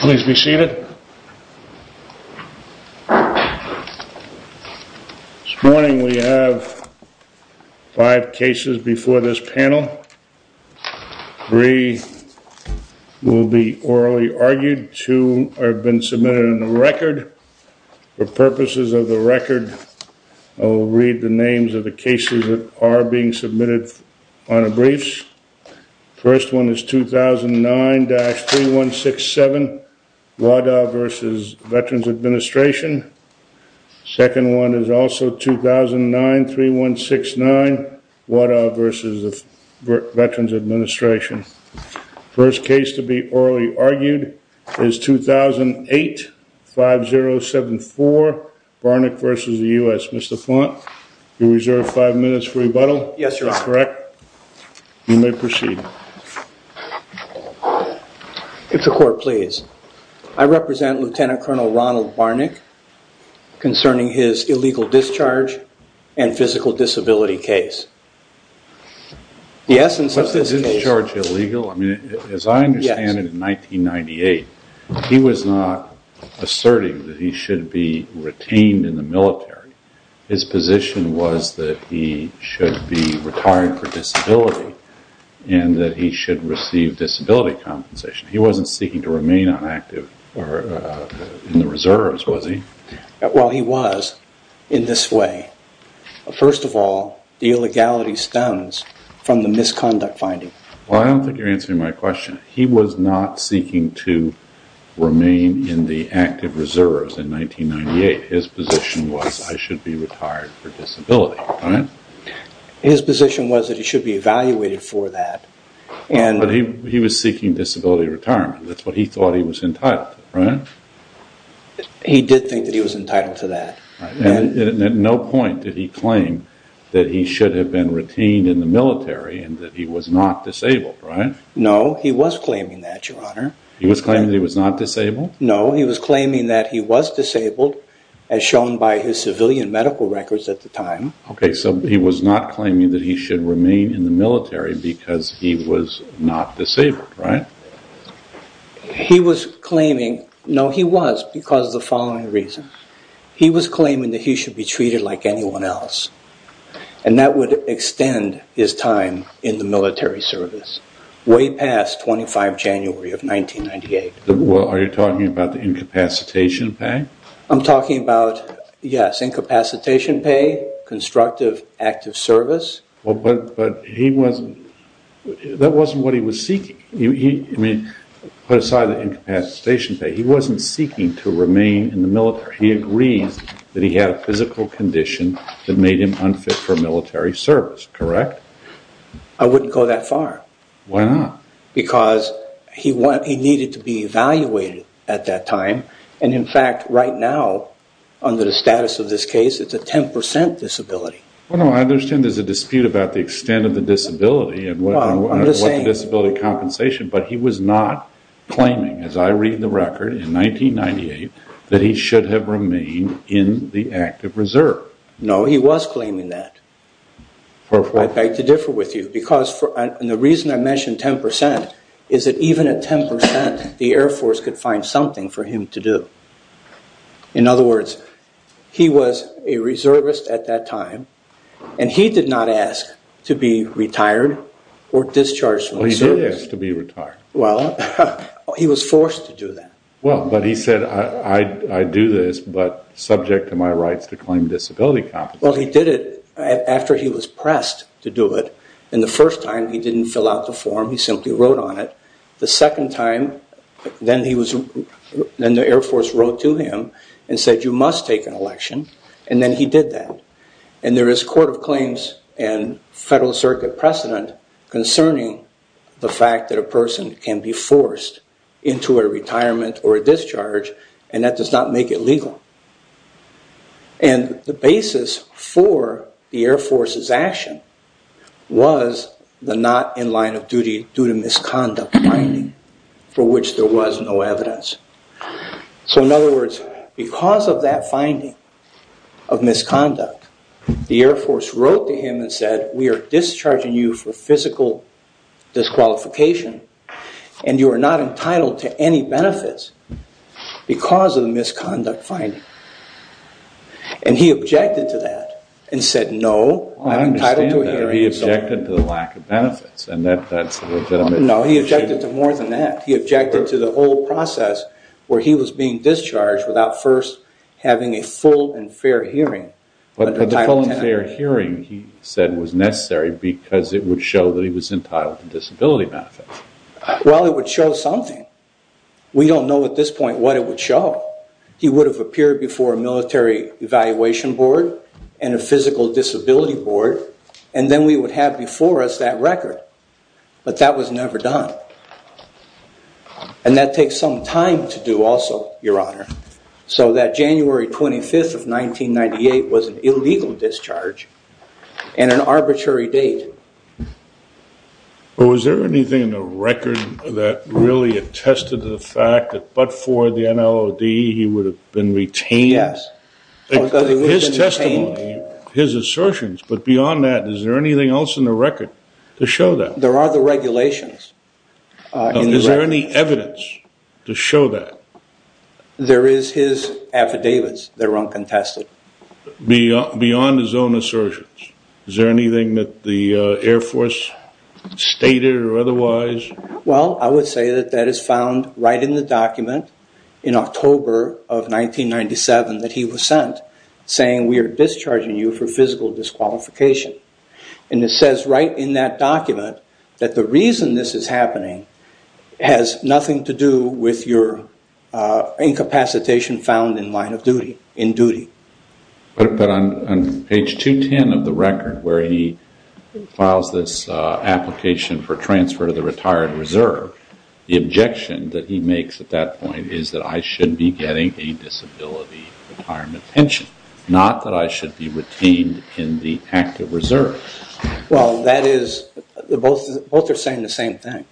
Please be seated. This morning we have five cases before this panel. Three will be orally argued. Two have been submitted in the record. For purposes of the record, I will read the names of the cases that are being submitted on a briefs. First one is 2009-3167 Wadah v. Veterans Administration. Second one is also 2009-3169 Wadah v. Veterans Administration. First case to be orally argued is 2008-5074 Barnick v. U.S. Mr. Flaunt, you reserve five minutes for rebuttal. That's correct. You may proceed. If the court please. I represent Lieutenant Colonel Ronald Barnick concerning his illegal discharge and physical disability case. The essence of this case... As I understand it in 1998, he was not asserting that he should be retained in the military. His position was that he should be retired for disability and that he should receive disability compensation. He wasn't seeking to remain in the reserves, was he? Well, he was in this way. First of all, the illegality stems from the misconduct finding. I don't think you're answering my question. He was not seeking to remain in the active reserves in 1998. His position was I should be retired for disability. His position was that he should be evaluated for that. He was seeking disability retirement. That's what he thought he was entitled to. He did think that he was entitled to that. At no point did he claim that he should have been retained in the military and that he was not disabled, right? No, he was claiming that, Your Honor. He was claiming that he was not disabled? No, he was claiming that he was disabled by his civilian medical records at the time. Okay, so he was not claiming that he should remain in the military because he was not disabled, right? He was claiming, no, he was because of the following reasons. He was claiming that he should be treated like anyone else and that would extend his time in the military service way past 25 January of 1998. Are you talking about the incapacitation pay? I'm talking about, yes, incapacitation pay, constructive active service. That wasn't what he was seeking. He wasn't seeking to remain in the military. He agreed that he had a physical condition that made him unfit for military service, correct? I wouldn't go that far. Why not? Because he needed to be evaluated at that time and in fact, right now, under the status of this case, it's a 10% disability. I understand there's a dispute about the extent of the disability and what the disability compensation, but he was not claiming, as I read the record in 1998, that he should have remained in the active reserve. No, he was claiming that. I beg to differ with you because the reason I mentioned 10% is that even at 10%, the Air Force could find something for him to do. In other words, he was a reservist at that time and he did not ask to be retired or discharged from the service. He did ask to be retired. Well, he was forced to do that. Well, but he said, I do this, but subject to my rights to claim disability compensation. Well, he did it after he was retired. The first time, he didn't fill out the form. He simply wrote on it. The second time, then the Air Force wrote to him and said, you must take an election. And then he did that. And there is court of claims and federal circuit precedent concerning the fact that a person can be forced into a retirement or a discharge and that does not make it legal. And the basis for the Air Force's action was the not in line of duty misconduct finding for which there was no evidence. So, in other words, because of that finding of misconduct, the Air Force wrote to him and said, we are discharging you for physical disqualification and you are not entitled to any benefits because of the misconduct finding. And he objected to that and said, no, I'm entitled to a hearing. No, he objected to more than that. He objected to the whole process where he was being discharged without first having a full and fair hearing. But the full and fair hearing, he said, was necessary because it would show that he was entitled to disability benefits. Well, it would show something. We don't know at this point what it would show. He would have appeared before a military evaluation board and a physical disability board and then we would have before us that record. But that was never done. And that takes some time to do also, Your Honor. So that January 25th of 1998 was an illegal discharge and an arbitrary date. But was there anything in the record that really attested to the fact that but for the NLOD he would have been retained? Yes. His assertions, but beyond that, is there anything else in the record to show that? There are the regulations. Is there any evidence to show that? There is his affidavits that are uncontested. Beyond his own assertions? Is there anything that the Air Force stated or otherwise? Well, I would say that that is found right in the document in October of 1997 that he was sent saying we are discharging you for physical disqualification. And it says right in that document that the reason this is happening has nothing to do with your incapacitation found in line of duty, in duty. But on page 210 of the record where he files this application for transfer to the retired reserve, the objection that he makes at that point is that I should be getting a disability retirement pension, not that I should be retained in the active reserve. Well, that is, both are saying the same thing.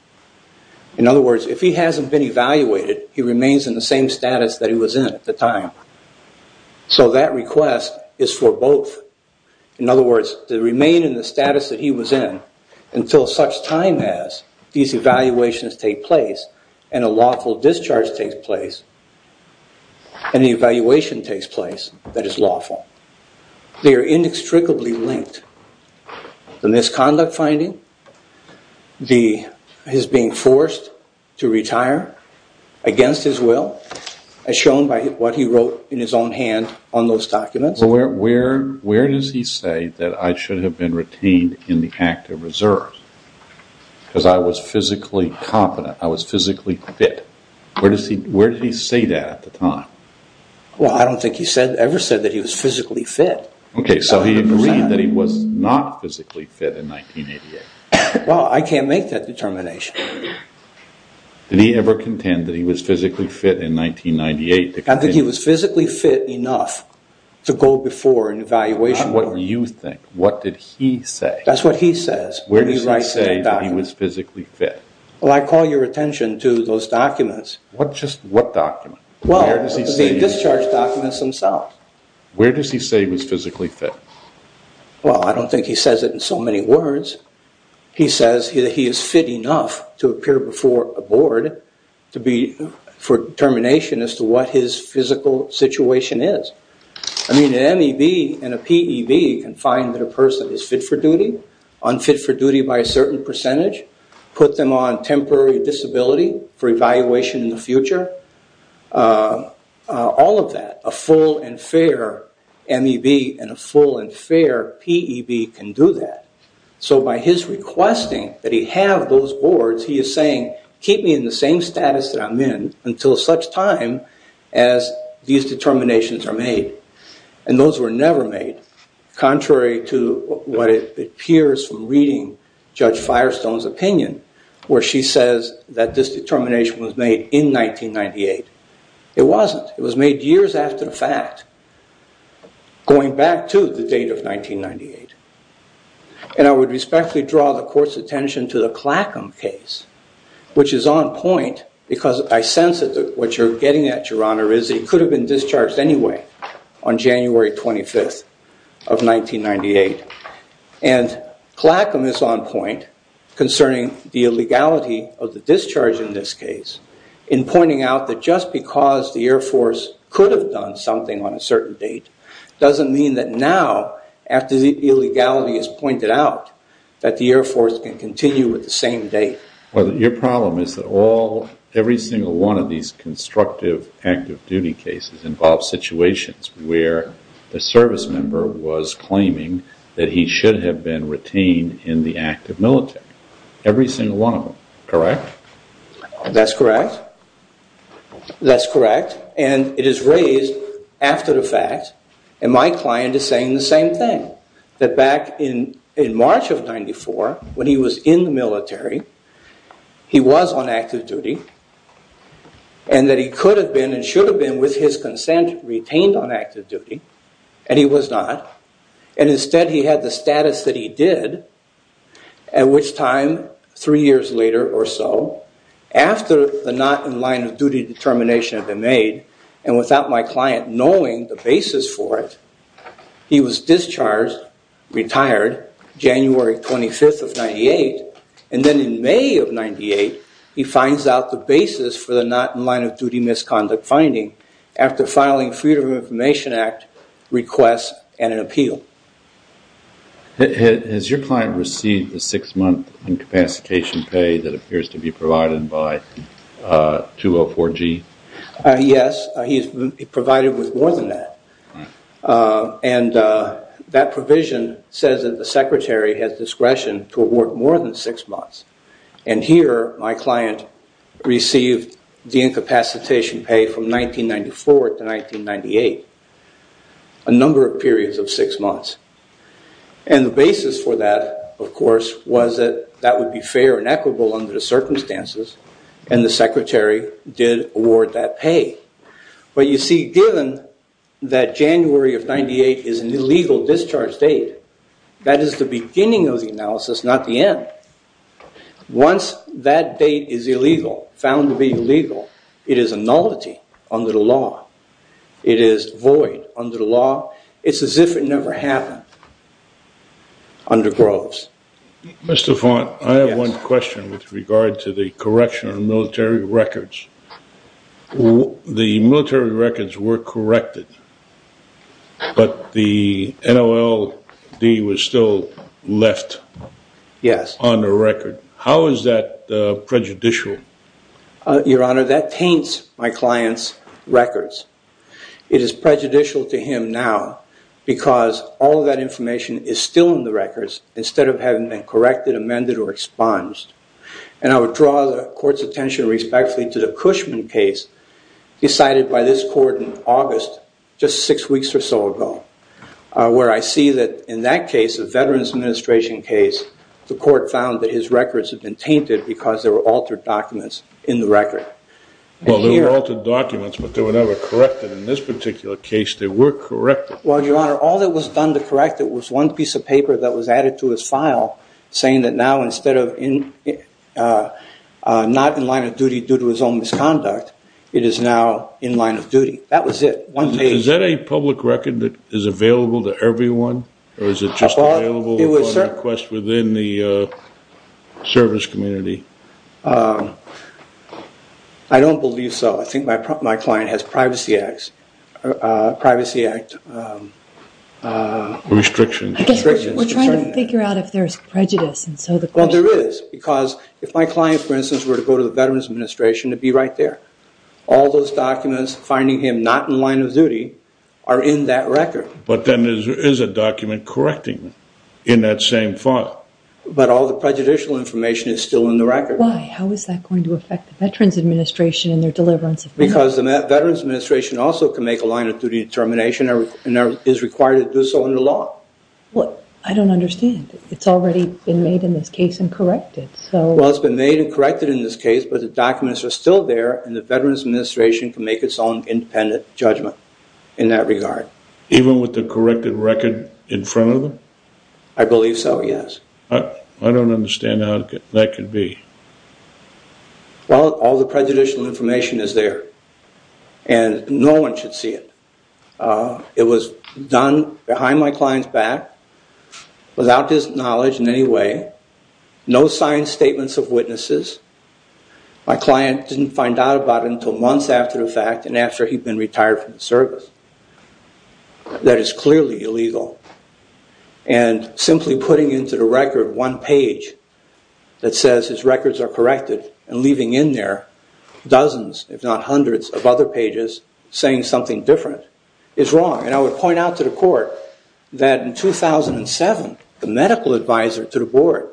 In other words, if he hasn't been evaluated he remains in the same status that he was in at the time. So that request is for both. In other words, to remain in the status that he was in until such time as these and a lawful discharge takes place and the evaluation takes place that is lawful. They are inextricably linked. The misconduct finding, his being forced to retire against his will, as shown by what he wrote in his own hand on those documents. Where does he say that I should have been retained in the active reserve? Because I was physically competent. I was physically fit. Where did he say that at the time? Well, I don't think he ever said that he was physically fit. Okay, so he agreed that he was not physically fit in 1988. Well, I can't make that determination. Did he ever contend that he was physically fit in 1998? I think he was physically fit enough to go before an evaluation board. What do you think? What did he say? That's what he says. Where does he say that he was physically fit? Well, I call your attention to those documents. Just what documents? Well, the discharge documents themselves. Where does he say he was physically fit? Well, I don't think he says it in so many words. He says that he is fit enough to appear before a board for determination as to what his physical situation is. I mean, an MEB and a PEB can find that a person is fit for duty, unfit for duty by a certain percentage, put them on temporary disability for evaluation in the future. All of that. A full and fair MEB and a full and fair PEB can do that. So by his requesting that he have those boards, he is saying, keep me in the same status that I'm in until such time as these determinations are made. And those were never made. Contrary to what it appears from reading Judge Firestone's opinion, where she says that this determination was made in 1998. It wasn't. It was made years after the fact, going back to the date of 1998. And I would respectfully draw the court's attention to the Clackam case, which is on point because I sense that what you're getting at, Your Honor, is that he could have been discharged anyway on January 25th of 1998. And Clackam is on point concerning the illegality of the discharge in this case in pointing out that just because the Air Force could have done something on a certain date doesn't mean that now, after the illegality is pointed out, that the Air Force can continue with the same date. Your problem is that every single one of these constructive active duty cases involve situations where the service member was claiming that he should have been retained in the active military. Every single one of them. Correct? That's correct. That's correct. And it is raised after the fact. And my client is saying the same thing. That back in March of 94, when he was in the military, he was on active duty. And that he could have been and should have been, with his consent, retained on active duty. And he was not. And instead he had the status that he did, at which time three years later or so, after the not in line of duty determination had been made, and without my client knowing the basis for it, he was discharged, retired January 25th of 98, and then in May of 98, he finds out the basis for the not in line of duty misconduct finding, after filing a Freedom of Information Act request and an appeal. Has your client received the six month incapacitation pay that appears to be provided by 204G? Yes. He is provided with more than that. And that provision says that the secretary has discretion to and here my client received the incapacitation pay from 1994 to 1998. A number of periods of six months. And the basis for that of course, was that that would be fair and equitable under the circumstances and the secretary did award that pay. But you see, given that January of 98 is an illegal discharge date, that is the beginning of the analysis, not the end. Once that date is illegal, found to be illegal, it is a nullity under the law. It is void under the law. It's as if it never happened under Groves. Mr. Vaughn, I have one question with regard to the correction of military records. The military records were corrected, but the NOLD was still left on the record. How is that prejudicial? Your Honor, that taints my client's records. It is prejudicial to him now because all of that information is still in the records instead of having been corrected, amended, or expunged. And I would draw the court's attention respectfully to the Cushman case decided by this court in August, just six weeks or so ago, where I was in this administration case. The court found that his records had been tainted because there were altered documents in the record. Well, there were altered documents, but they were never corrected. In this particular case, they were corrected. Well, Your Honor, all that was done to correct it was one piece of paper that was added to his file saying that now instead of not in line of duty due to his own misconduct, it is now in line of duty. That was it. Is that a public record that is available to everyone, or is it just available within the service community? I don't believe so. I think my client has Privacy Act restrictions. I guess we're trying to figure out if there's prejudice. Well, there is because if my client, for instance, were to go to the Veterans Administration, it would be right there. All those documents finding him not in line of duty are in that record. But then there is a document correcting him in that same file. But all the prejudicial information is still in the record. Why? How is that going to affect the Veterans Administration and their deliverance of money? Because the Veterans Administration also can make a line of duty determination and is required to do so under law. I don't understand. It's already been made in this case and corrected. Well, it's been made and corrected in this case, but the documents are still there, and the Veterans Administration can make its own independent judgment in that regard. Even with the corrected record in front of them? I believe so, yes. I don't understand how that could be. Well, all the prejudicial information is there, and no one should see it. It was done behind my client's back without his knowledge in any way. No signed statements of witnesses. My client didn't find out about it until months after the fact and after he'd been retired from the service. That is clearly illegal. And simply putting into the record one page that says his records are corrected and leaving in there dozens, if not hundreds, of other pages saying something different is wrong. And I would point out to the court that in 2007, the medical advisor to the board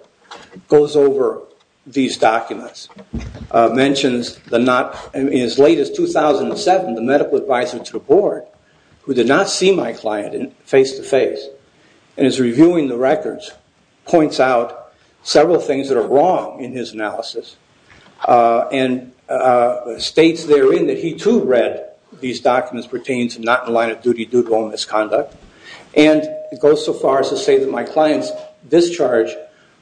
goes over these documents, mentions in as late as 2007 the medical advisor to the board, who did not see my client face-to-face, and is reviewing the records, points out several things that are wrong in his analysis, and states therein that he too read these documents pertaining to not in line of duty due to all misconduct, and goes so far as to say that my client's discharge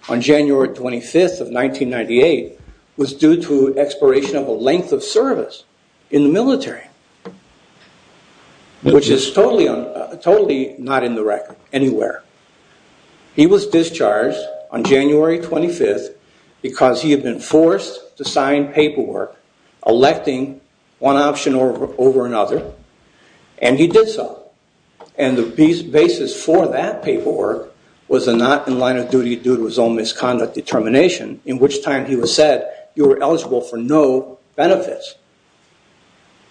on January 25th of 1998 was due to expiration of a length of service in the military, which is totally not in the record anywhere. He was discharged on January 25th because he had been forced to sign paperwork electing one option over another, and he did so. And the basis for that paperwork was the not in line of duty due to his own misconduct determination, in which time he was said you were eligible for no benefits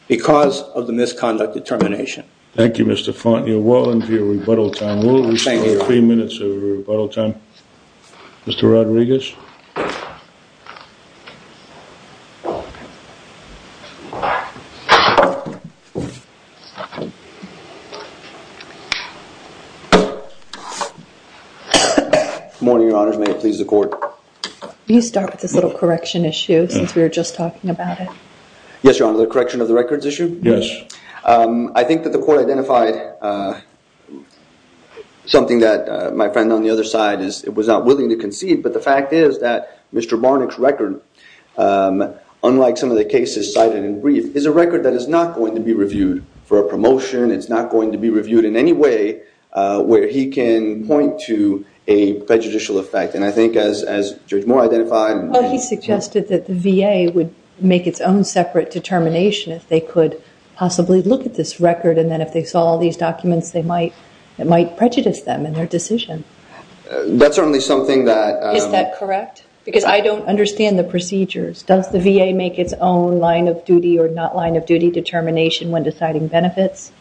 because of the misconduct determination. Thank you, Mr. Fontenot. Well into your rebuttal time. We'll have three minutes of rebuttal time. Mr. Rodriguez? Good morning, your honors. May it please the court. Will you start with this little correction issue since we were just talking about it? Yes, your honor. The correction of the records issue? Yes. I think that the court identified something that my friend on the other side was not willing to concede, but the fact is The record is not in line of duty. The fact is that Mr. Barnack's record, unlike some of the cases cited in brief, is a record that is not going to be reviewed for a promotion. It's not going to be reviewed in any way where he can point to a prejudicial effect. And I think as Judge Moore identified Well he suggested that the VA would make its own separate determination if they could possibly look at this record and then if they saw all these documents it might prejudice them in their decision. Is that correct? Because I don't understand the procedures. Does the VA make its own line of duty or not line of duty determination when deciding benefits?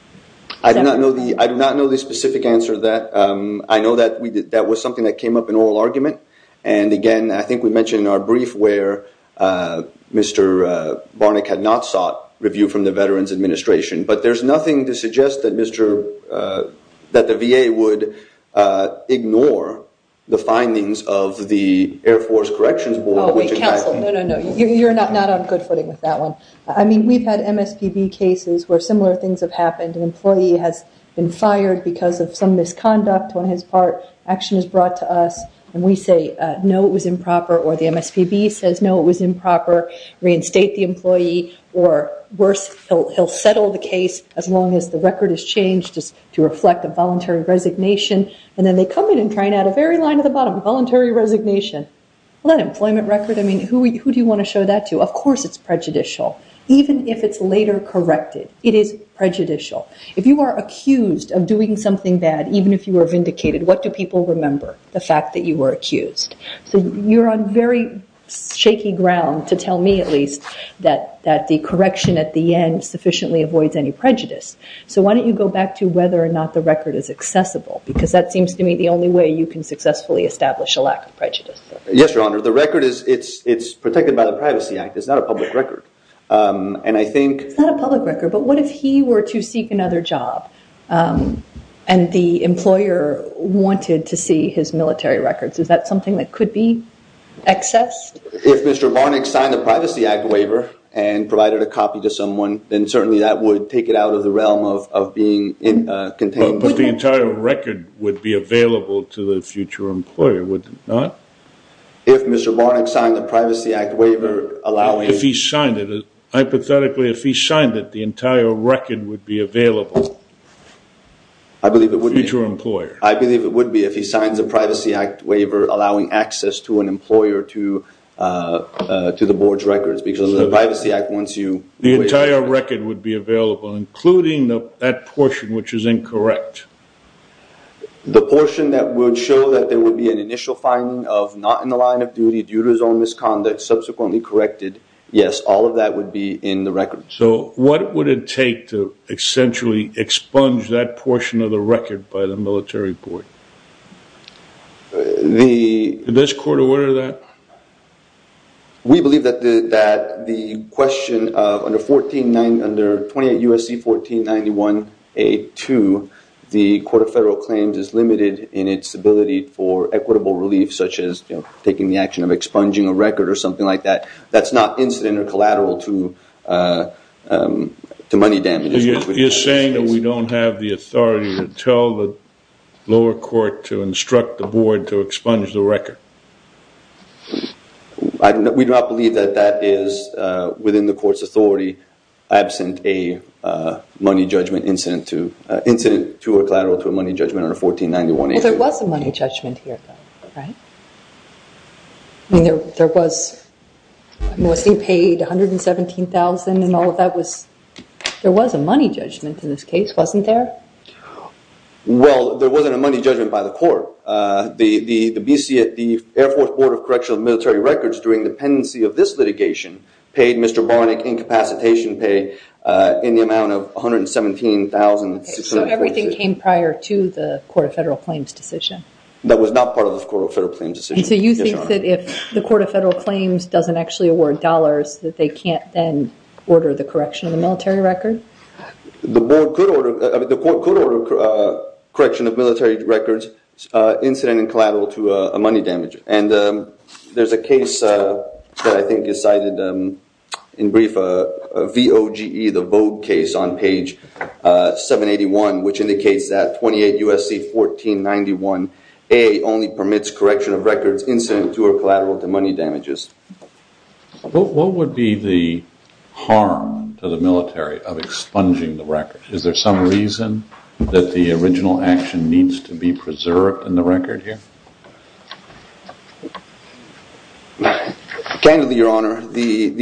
I do not know the specific answer to that. I know that was something that came up in oral argument. And again, I think we mentioned in our brief where Mr. Barnack had not sought review from the Veterans Administration. But there's nothing to suggest that the VA would ignore the findings of the Air Force Corrections Board. You're not on good footing with that one. I mean we've had MSPB cases where similar things have happened. An employee has been fired because of some misconduct on his part. Action is brought to us and we say no it was improper or the MSPB says no it was improper. Reinstate the employee or worse, he'll settle the case as long as the record is changed to reflect a voluntary resignation. And then they come in and try and add a very line at the bottom, voluntary resignation. Well that employment record I mean who do you want to show that to? Of course it's prejudicial. Even if it's later corrected, it is prejudicial. If you are accused of doing something bad, even if you were vindicated, what do people remember? The fact that you were accused. So you're on very shaky ground to tell me at least that the correction at the end sufficiently avoids any prejudice. So why don't you go back to whether or not the record is accessible because that seems to me the only way you can successfully establish a lack of prejudice. Yes, Your Honor. The record is protected by the Privacy Act. It's not a public record. It's not a public record but what if he were to seek another job and the employer wanted to see his military records. Is that something that could be accessed? If Mr. Varnick signed the Privacy Act waiver and provided a copy to someone, then certainly that would take it out of the realm of being contained. But the entire record would be available to the future employer, would it not? If Mr. Varnick signed the Privacy Act waiver allowing. If he signed it, hypothetically if he signed it, the entire record would be available. I believe it would be. Future employer. I believe it would be if he signs a Privacy Act waiver allowing access to an employer to the board's records. The entire record would be available including that portion which is incorrect. The portion that would show that there would be an initial finding of not in the line of duty due to his own misconduct subsequently corrected. Yes, all of that would be in the record. So what would it take to essentially expunge that portion of the record by the military court? Did this court order that? We believe that the question of under 28 U.S.C. 1491 A.2, the Court of Federal Claims is limited in its ability for equitable relief such as taking the action of expunging a record or something like that. That's not incident or collateral to money damages. You're saying that we don't have the authority to tell the lower court to instruct the board to expunge the record? We do not believe that that is within the court's authority absent a money judgment incident to a collateral to a money judgment under 1491 A.2. Well there was a money judgment here though, right? I mean there was, was he paid $117,000 and all of that was, there was a money judgment in this case, wasn't there? Well there wasn't a money judgment by the court. The Air Force Board of Correctional Military Records during the pendency of this litigation paid Mr. Barnack incapacitation pay in the amount of $117,600. So everything came prior to the Court of Federal Claims decision? That was not part of the Court of Federal Claims decision. So you think that if the Court of Federal Claims doesn't actually award dollars that they can't then order the correction of the military record? The board could order, the court could order correction of military records incident and collateral to a money damage. And there's a case that I think is cited in brief, VOGE, the Vogue case on page 781 which indicates that 28 USC 1491 A only permits correction of records incident to or collateral to money damages. What would be the harm to the military of expunging the record? Is there some reason that the original action needs to be preserved in the record here? Candidly, your honor, the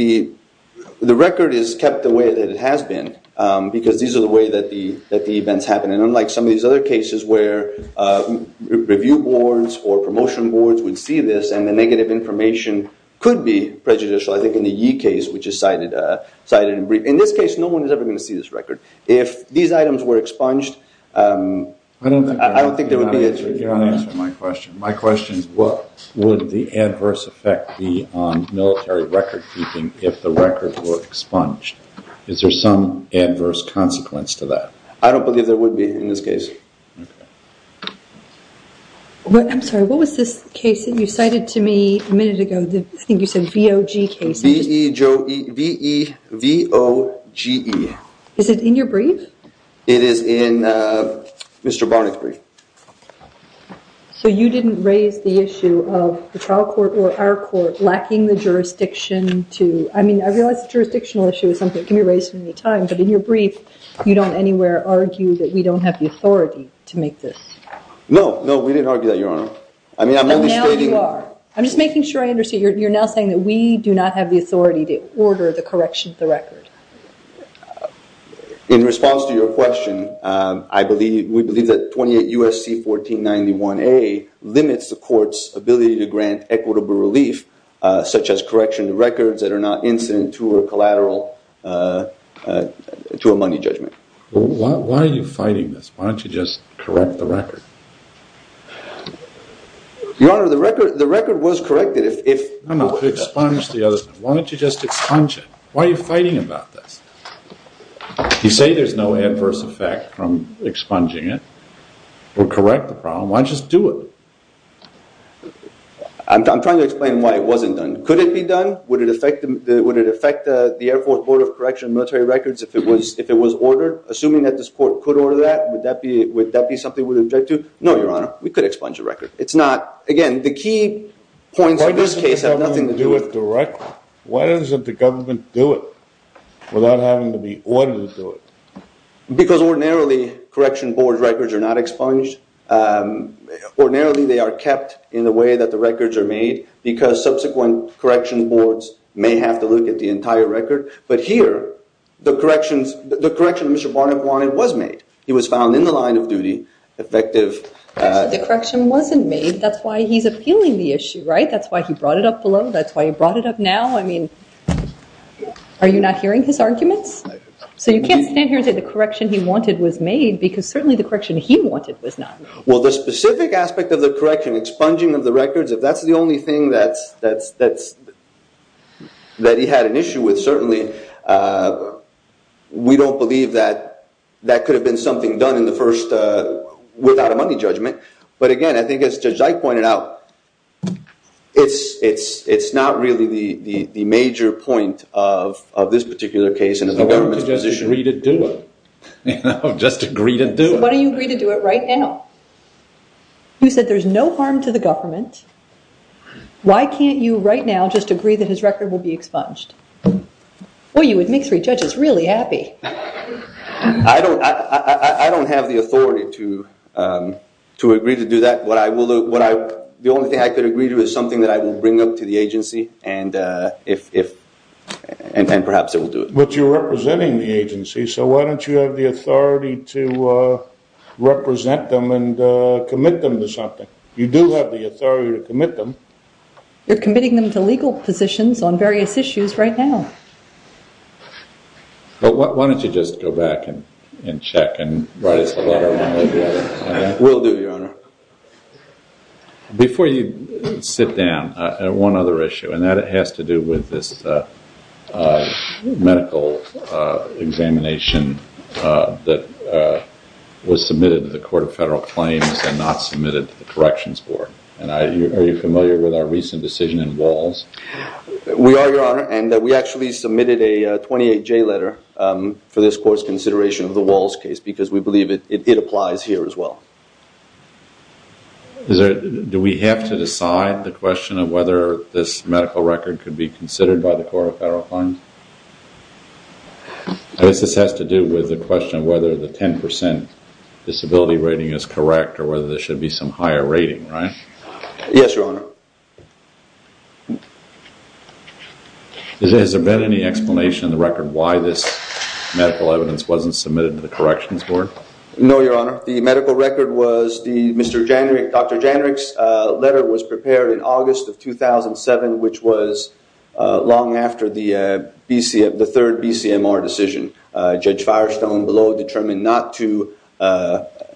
record is kept the way that it has been because these are the way that the events happen. And unlike some of these other cases where review boards or promotion boards would see this and the negative information could be prejudicial, I think in the Yee case which is cited in brief. In this case no one is ever going to see this record. If these items were expunged I don't think there would be... My question is what would the adverse effect be on military record keeping if the record were expunged? Is there some adverse consequence to that? I don't believe there would be in this case. I'm sorry, what was this case that you cited to me a minute ago? I think you said VOG case. V-E-V-O-G-E. Is it in your brief? It is in Mr. Barnett's brief. So you didn't raise the issue of the trial court or our court lacking the jurisdiction to... I realize the jurisdictional issue is something that can be raised at any time, but in your brief you don't anywhere argue that we don't have the authority to make this? No, we didn't argue that, your honor. But now you are. I'm just making sure I understand. You're now saying that we do not have the authority to order the correction of the record. In response to your question, I believe, we believe that 28 U.S.C. 1491A limits the court's ability to grant equitable relief such as correction of records that are not incident to a collateral, to a money judgment. Why are you fighting this? Why don't you just correct the record? Your honor, the record was corrected. Why don't you just expunge it? Why are you fighting about this? You say there's no adverse effect from expunging it or correct the problem. Why just do it? I'm trying to explain why it wasn't done. Could it be done? Would it affect the Air Force Board of Correction and Military Records if it was ordered? Assuming that this court could order that, would that be something we would object to? No, your honor. We could expunge the record. Again, the key points of this case have nothing to do with the record. Why doesn't the government do it without having to be ordered to do it? Because ordinarily, correction board records are not expunged. Ordinarily, they are kept in the way that the records are made because subsequent correction boards may have to look at the entire record. But here, the corrections that Mr. Barnett wanted was made. He was found in the line of duty effective. The correction wasn't made. That's why he's appealing the issue. That's why he brought it up below. That's why he brought it up now. Are you not hearing his arguments? So you can't stand here and say the correction he wanted was made because certainly the correction he wanted was not. Well, the specific aspect of the correction, expunging of the records, if that's the only thing that he had an issue with, certainly we don't believe that that could have been something done without a money judgment. But again, I think as Judge Dyke pointed out, it's not really the major point of this particular case. Why don't you just agree to do it? Why don't you agree to do it right now? You said there's no harm to the government. Why can't you right now just agree that his record will be expunged? Well, you would make three judges really happy. I don't have the authority to agree to do that. The only thing I could agree to is something that I will bring up to the agency and perhaps it will do it. But you're representing the agency, so why don't you have the authority to represent them and commit them to something? You do have the authority to commit them. You're committing them to legal positions on various issues right now. But why don't you just go back and check and write us a letter? We'll do, Your Honor. Before you sit down, one other issue, and that has to do with this medical examination that was submitted to the Court of Federal Claims and not submitted to the Court of Federal Claims. I'm not familiar with our recent decision in Walls. We are, Your Honor, and we actually submitted a 28-J letter for this Court's consideration of the Walls case because we believe it applies here as well. Do we have to decide the question of whether this medical record could be considered by the Court of Federal Claims? I guess this has to do with the question of whether the 10% disability rating is correct. Yes, Your Honor. Has there been any explanation in the record why this medical evidence wasn't submitted to the Corrections Board? No, Your Honor. The medical record was the Mr. Jandrich, Dr. Jandrich's letter was prepared in August of 2007, which was long after the third BCMR decision. Judge Firestone below determined not to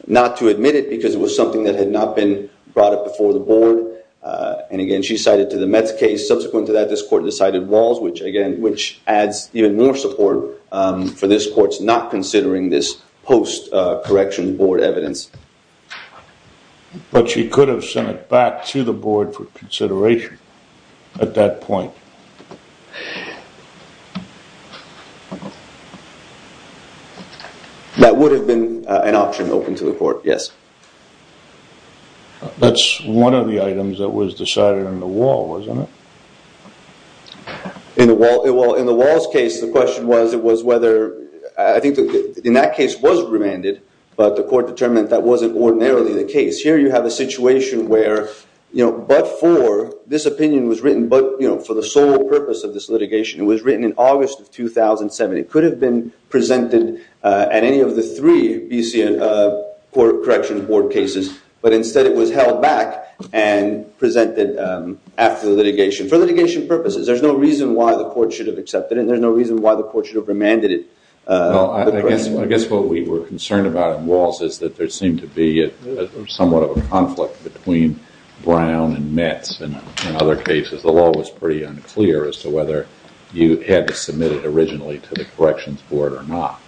admit it because it was something that had not been brought up before the Board. Again, she cited to the Mets case. Subsequent to that, this Court decided Walls, which adds even more support for this Court's not considering this post-Corrections Board evidence. But she could have sent it back to the Board for consideration at that point. That would have been an option open to the Court, yes. That's one of the items that was decided in the Wall, wasn't it? In the Wall's case, the question was whether I think in that case was remanded, but the Court determined that wasn't ordinarily the case. Here you have a situation where but for, this opinion was written but for the sole purpose of this litigation. It was written in August of 2007. It could have been presented at any of the three BC Corrections Board cases, but instead it was held back and presented after the litigation for litigation purposes. There's no reason why the Court should have accepted it and there's no reason why the Court should have remanded it. I guess what we were concerned about in Walls is that there seemed to be somewhat of a conflict between Brown and Mets and other cases. The law was pretty unclear as to whether you had to submit it originally to the Corrections Board or not.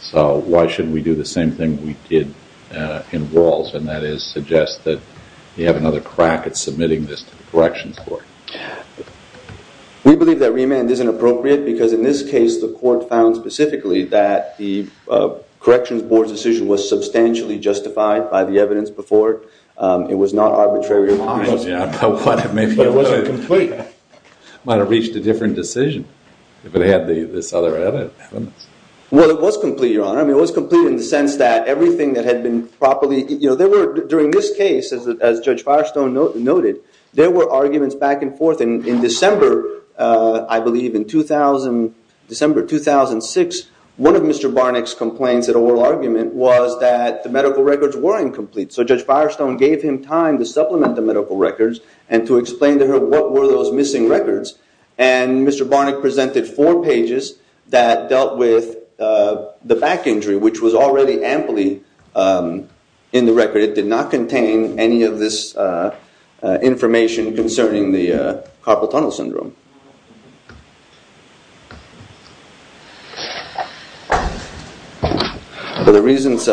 So why shouldn't we do the same thing we did in Walls and that is suggest that you have another crack at submitting this to the Corrections Board. We believe that remand isn't appropriate because in this case the Court found specifically that the Corrections Board's decision was substantially justified by the evidence before it. It was not arbitrary or It wasn't complete. It might have reached a different decision if it had this other evidence. Well, it was complete, Your Honor. It was complete in the sense that everything that had been properly during this case, as Judge Firestone noted, there were arguments back and forth. In December, I believe in December 2006, one of Mr. Barnack's complaints at oral argument was that the medical records were incomplete. So Judge Firestone gave him time to supplement the medical records and to explain to her what were those missing records and Mr. Barnack presented four pages that dealt with the back injury, which was already amply in the record. It did not contain any of this information concerning the carpal tunnel syndrome. The reasons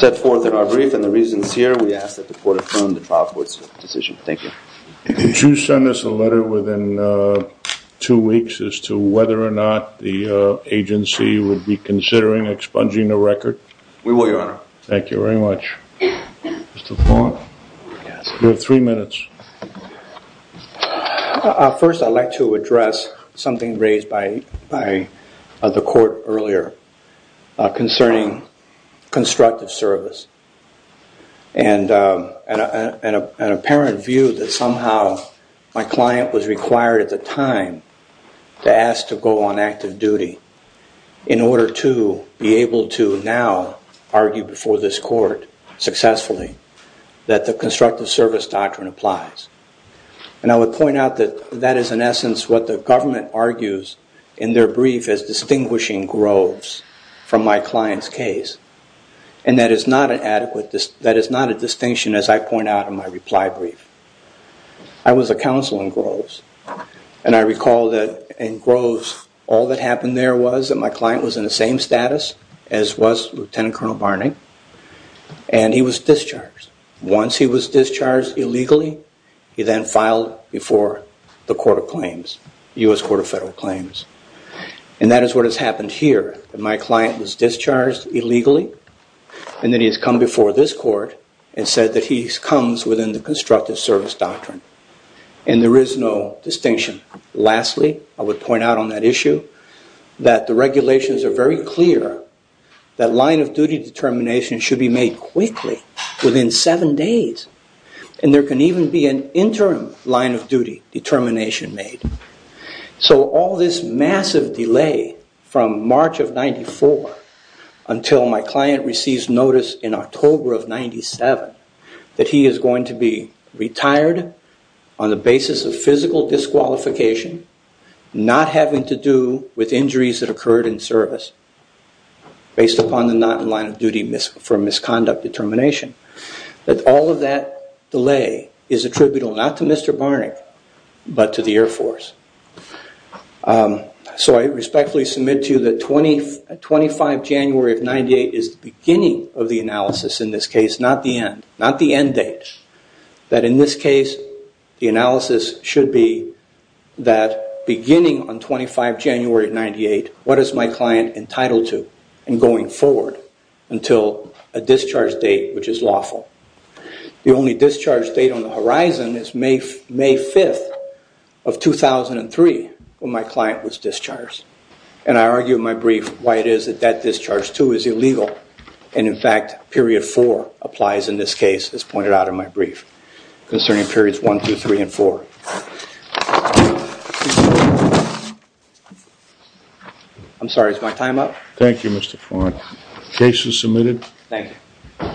set forth in our brief and the reasons here, we ask that the Court confirm the trial court's decision. Thank you. Would you send us a letter within two weeks as to whether or not the agency would be considering expunging the record? We will, Your Honor. Thank you very much. Mr. Fong? You have three minutes. First, I'd like to address something raised by the Court earlier concerning constructive service and an apparent view that somehow my client was required at the time to ask to go on active duty in order to be able to now argue before this Court successfully that the constructive service doctrine applies. And I would point out that that is in essence what the government argues in their brief as distinguishing Groves from my client's case and that is not a distinction as I point out in my reply brief. I was a counsel in Groves and I recall that in Groves all that happened there was that my client was in the same status as was Lieutenant Colonel Barney and he was discharged. Once he was discharged illegally, he then filed before the Court of Claims, U.S. Court of Federal Claims. And that is what has happened here. My client was discharged illegally and then he has come before this Court and said that he comes within the constructive service doctrine. And there is no distinction. Lastly, I would point out on that issue that the regulations are very clear that line of duty determination should be made quickly within seven days. And there can even be an interim line of duty determination made. So all this massive delay from March of 94 until my client receives notice in October of 97 that he is going to be retired on the basis of physical disqualification, not having to do with injuries that occurred in service based upon the not in line of duty for misconduct determination, that all of that delay is attributable not to Mr. Barney but to the Air Force. So I respectfully submit to you that 25 January of 98 is the beginning of the analysis in this case, not the end. Not the end date. That in this case the analysis should be that beginning on 25 January of 98, what is my client entitled to in going forward until a discharge date which is lawful. The only discharge date on the horizon is May 5th of 2003 when my client was discharged. And I argue in my brief why it is that that discharge too is illegal and in fact period 4 applies in this case as pointed out in my brief concerning periods 1, 2, 3 and 4. I'm sorry, is my time up? Thank you Mr. Farn. Case is submitted. Thank you.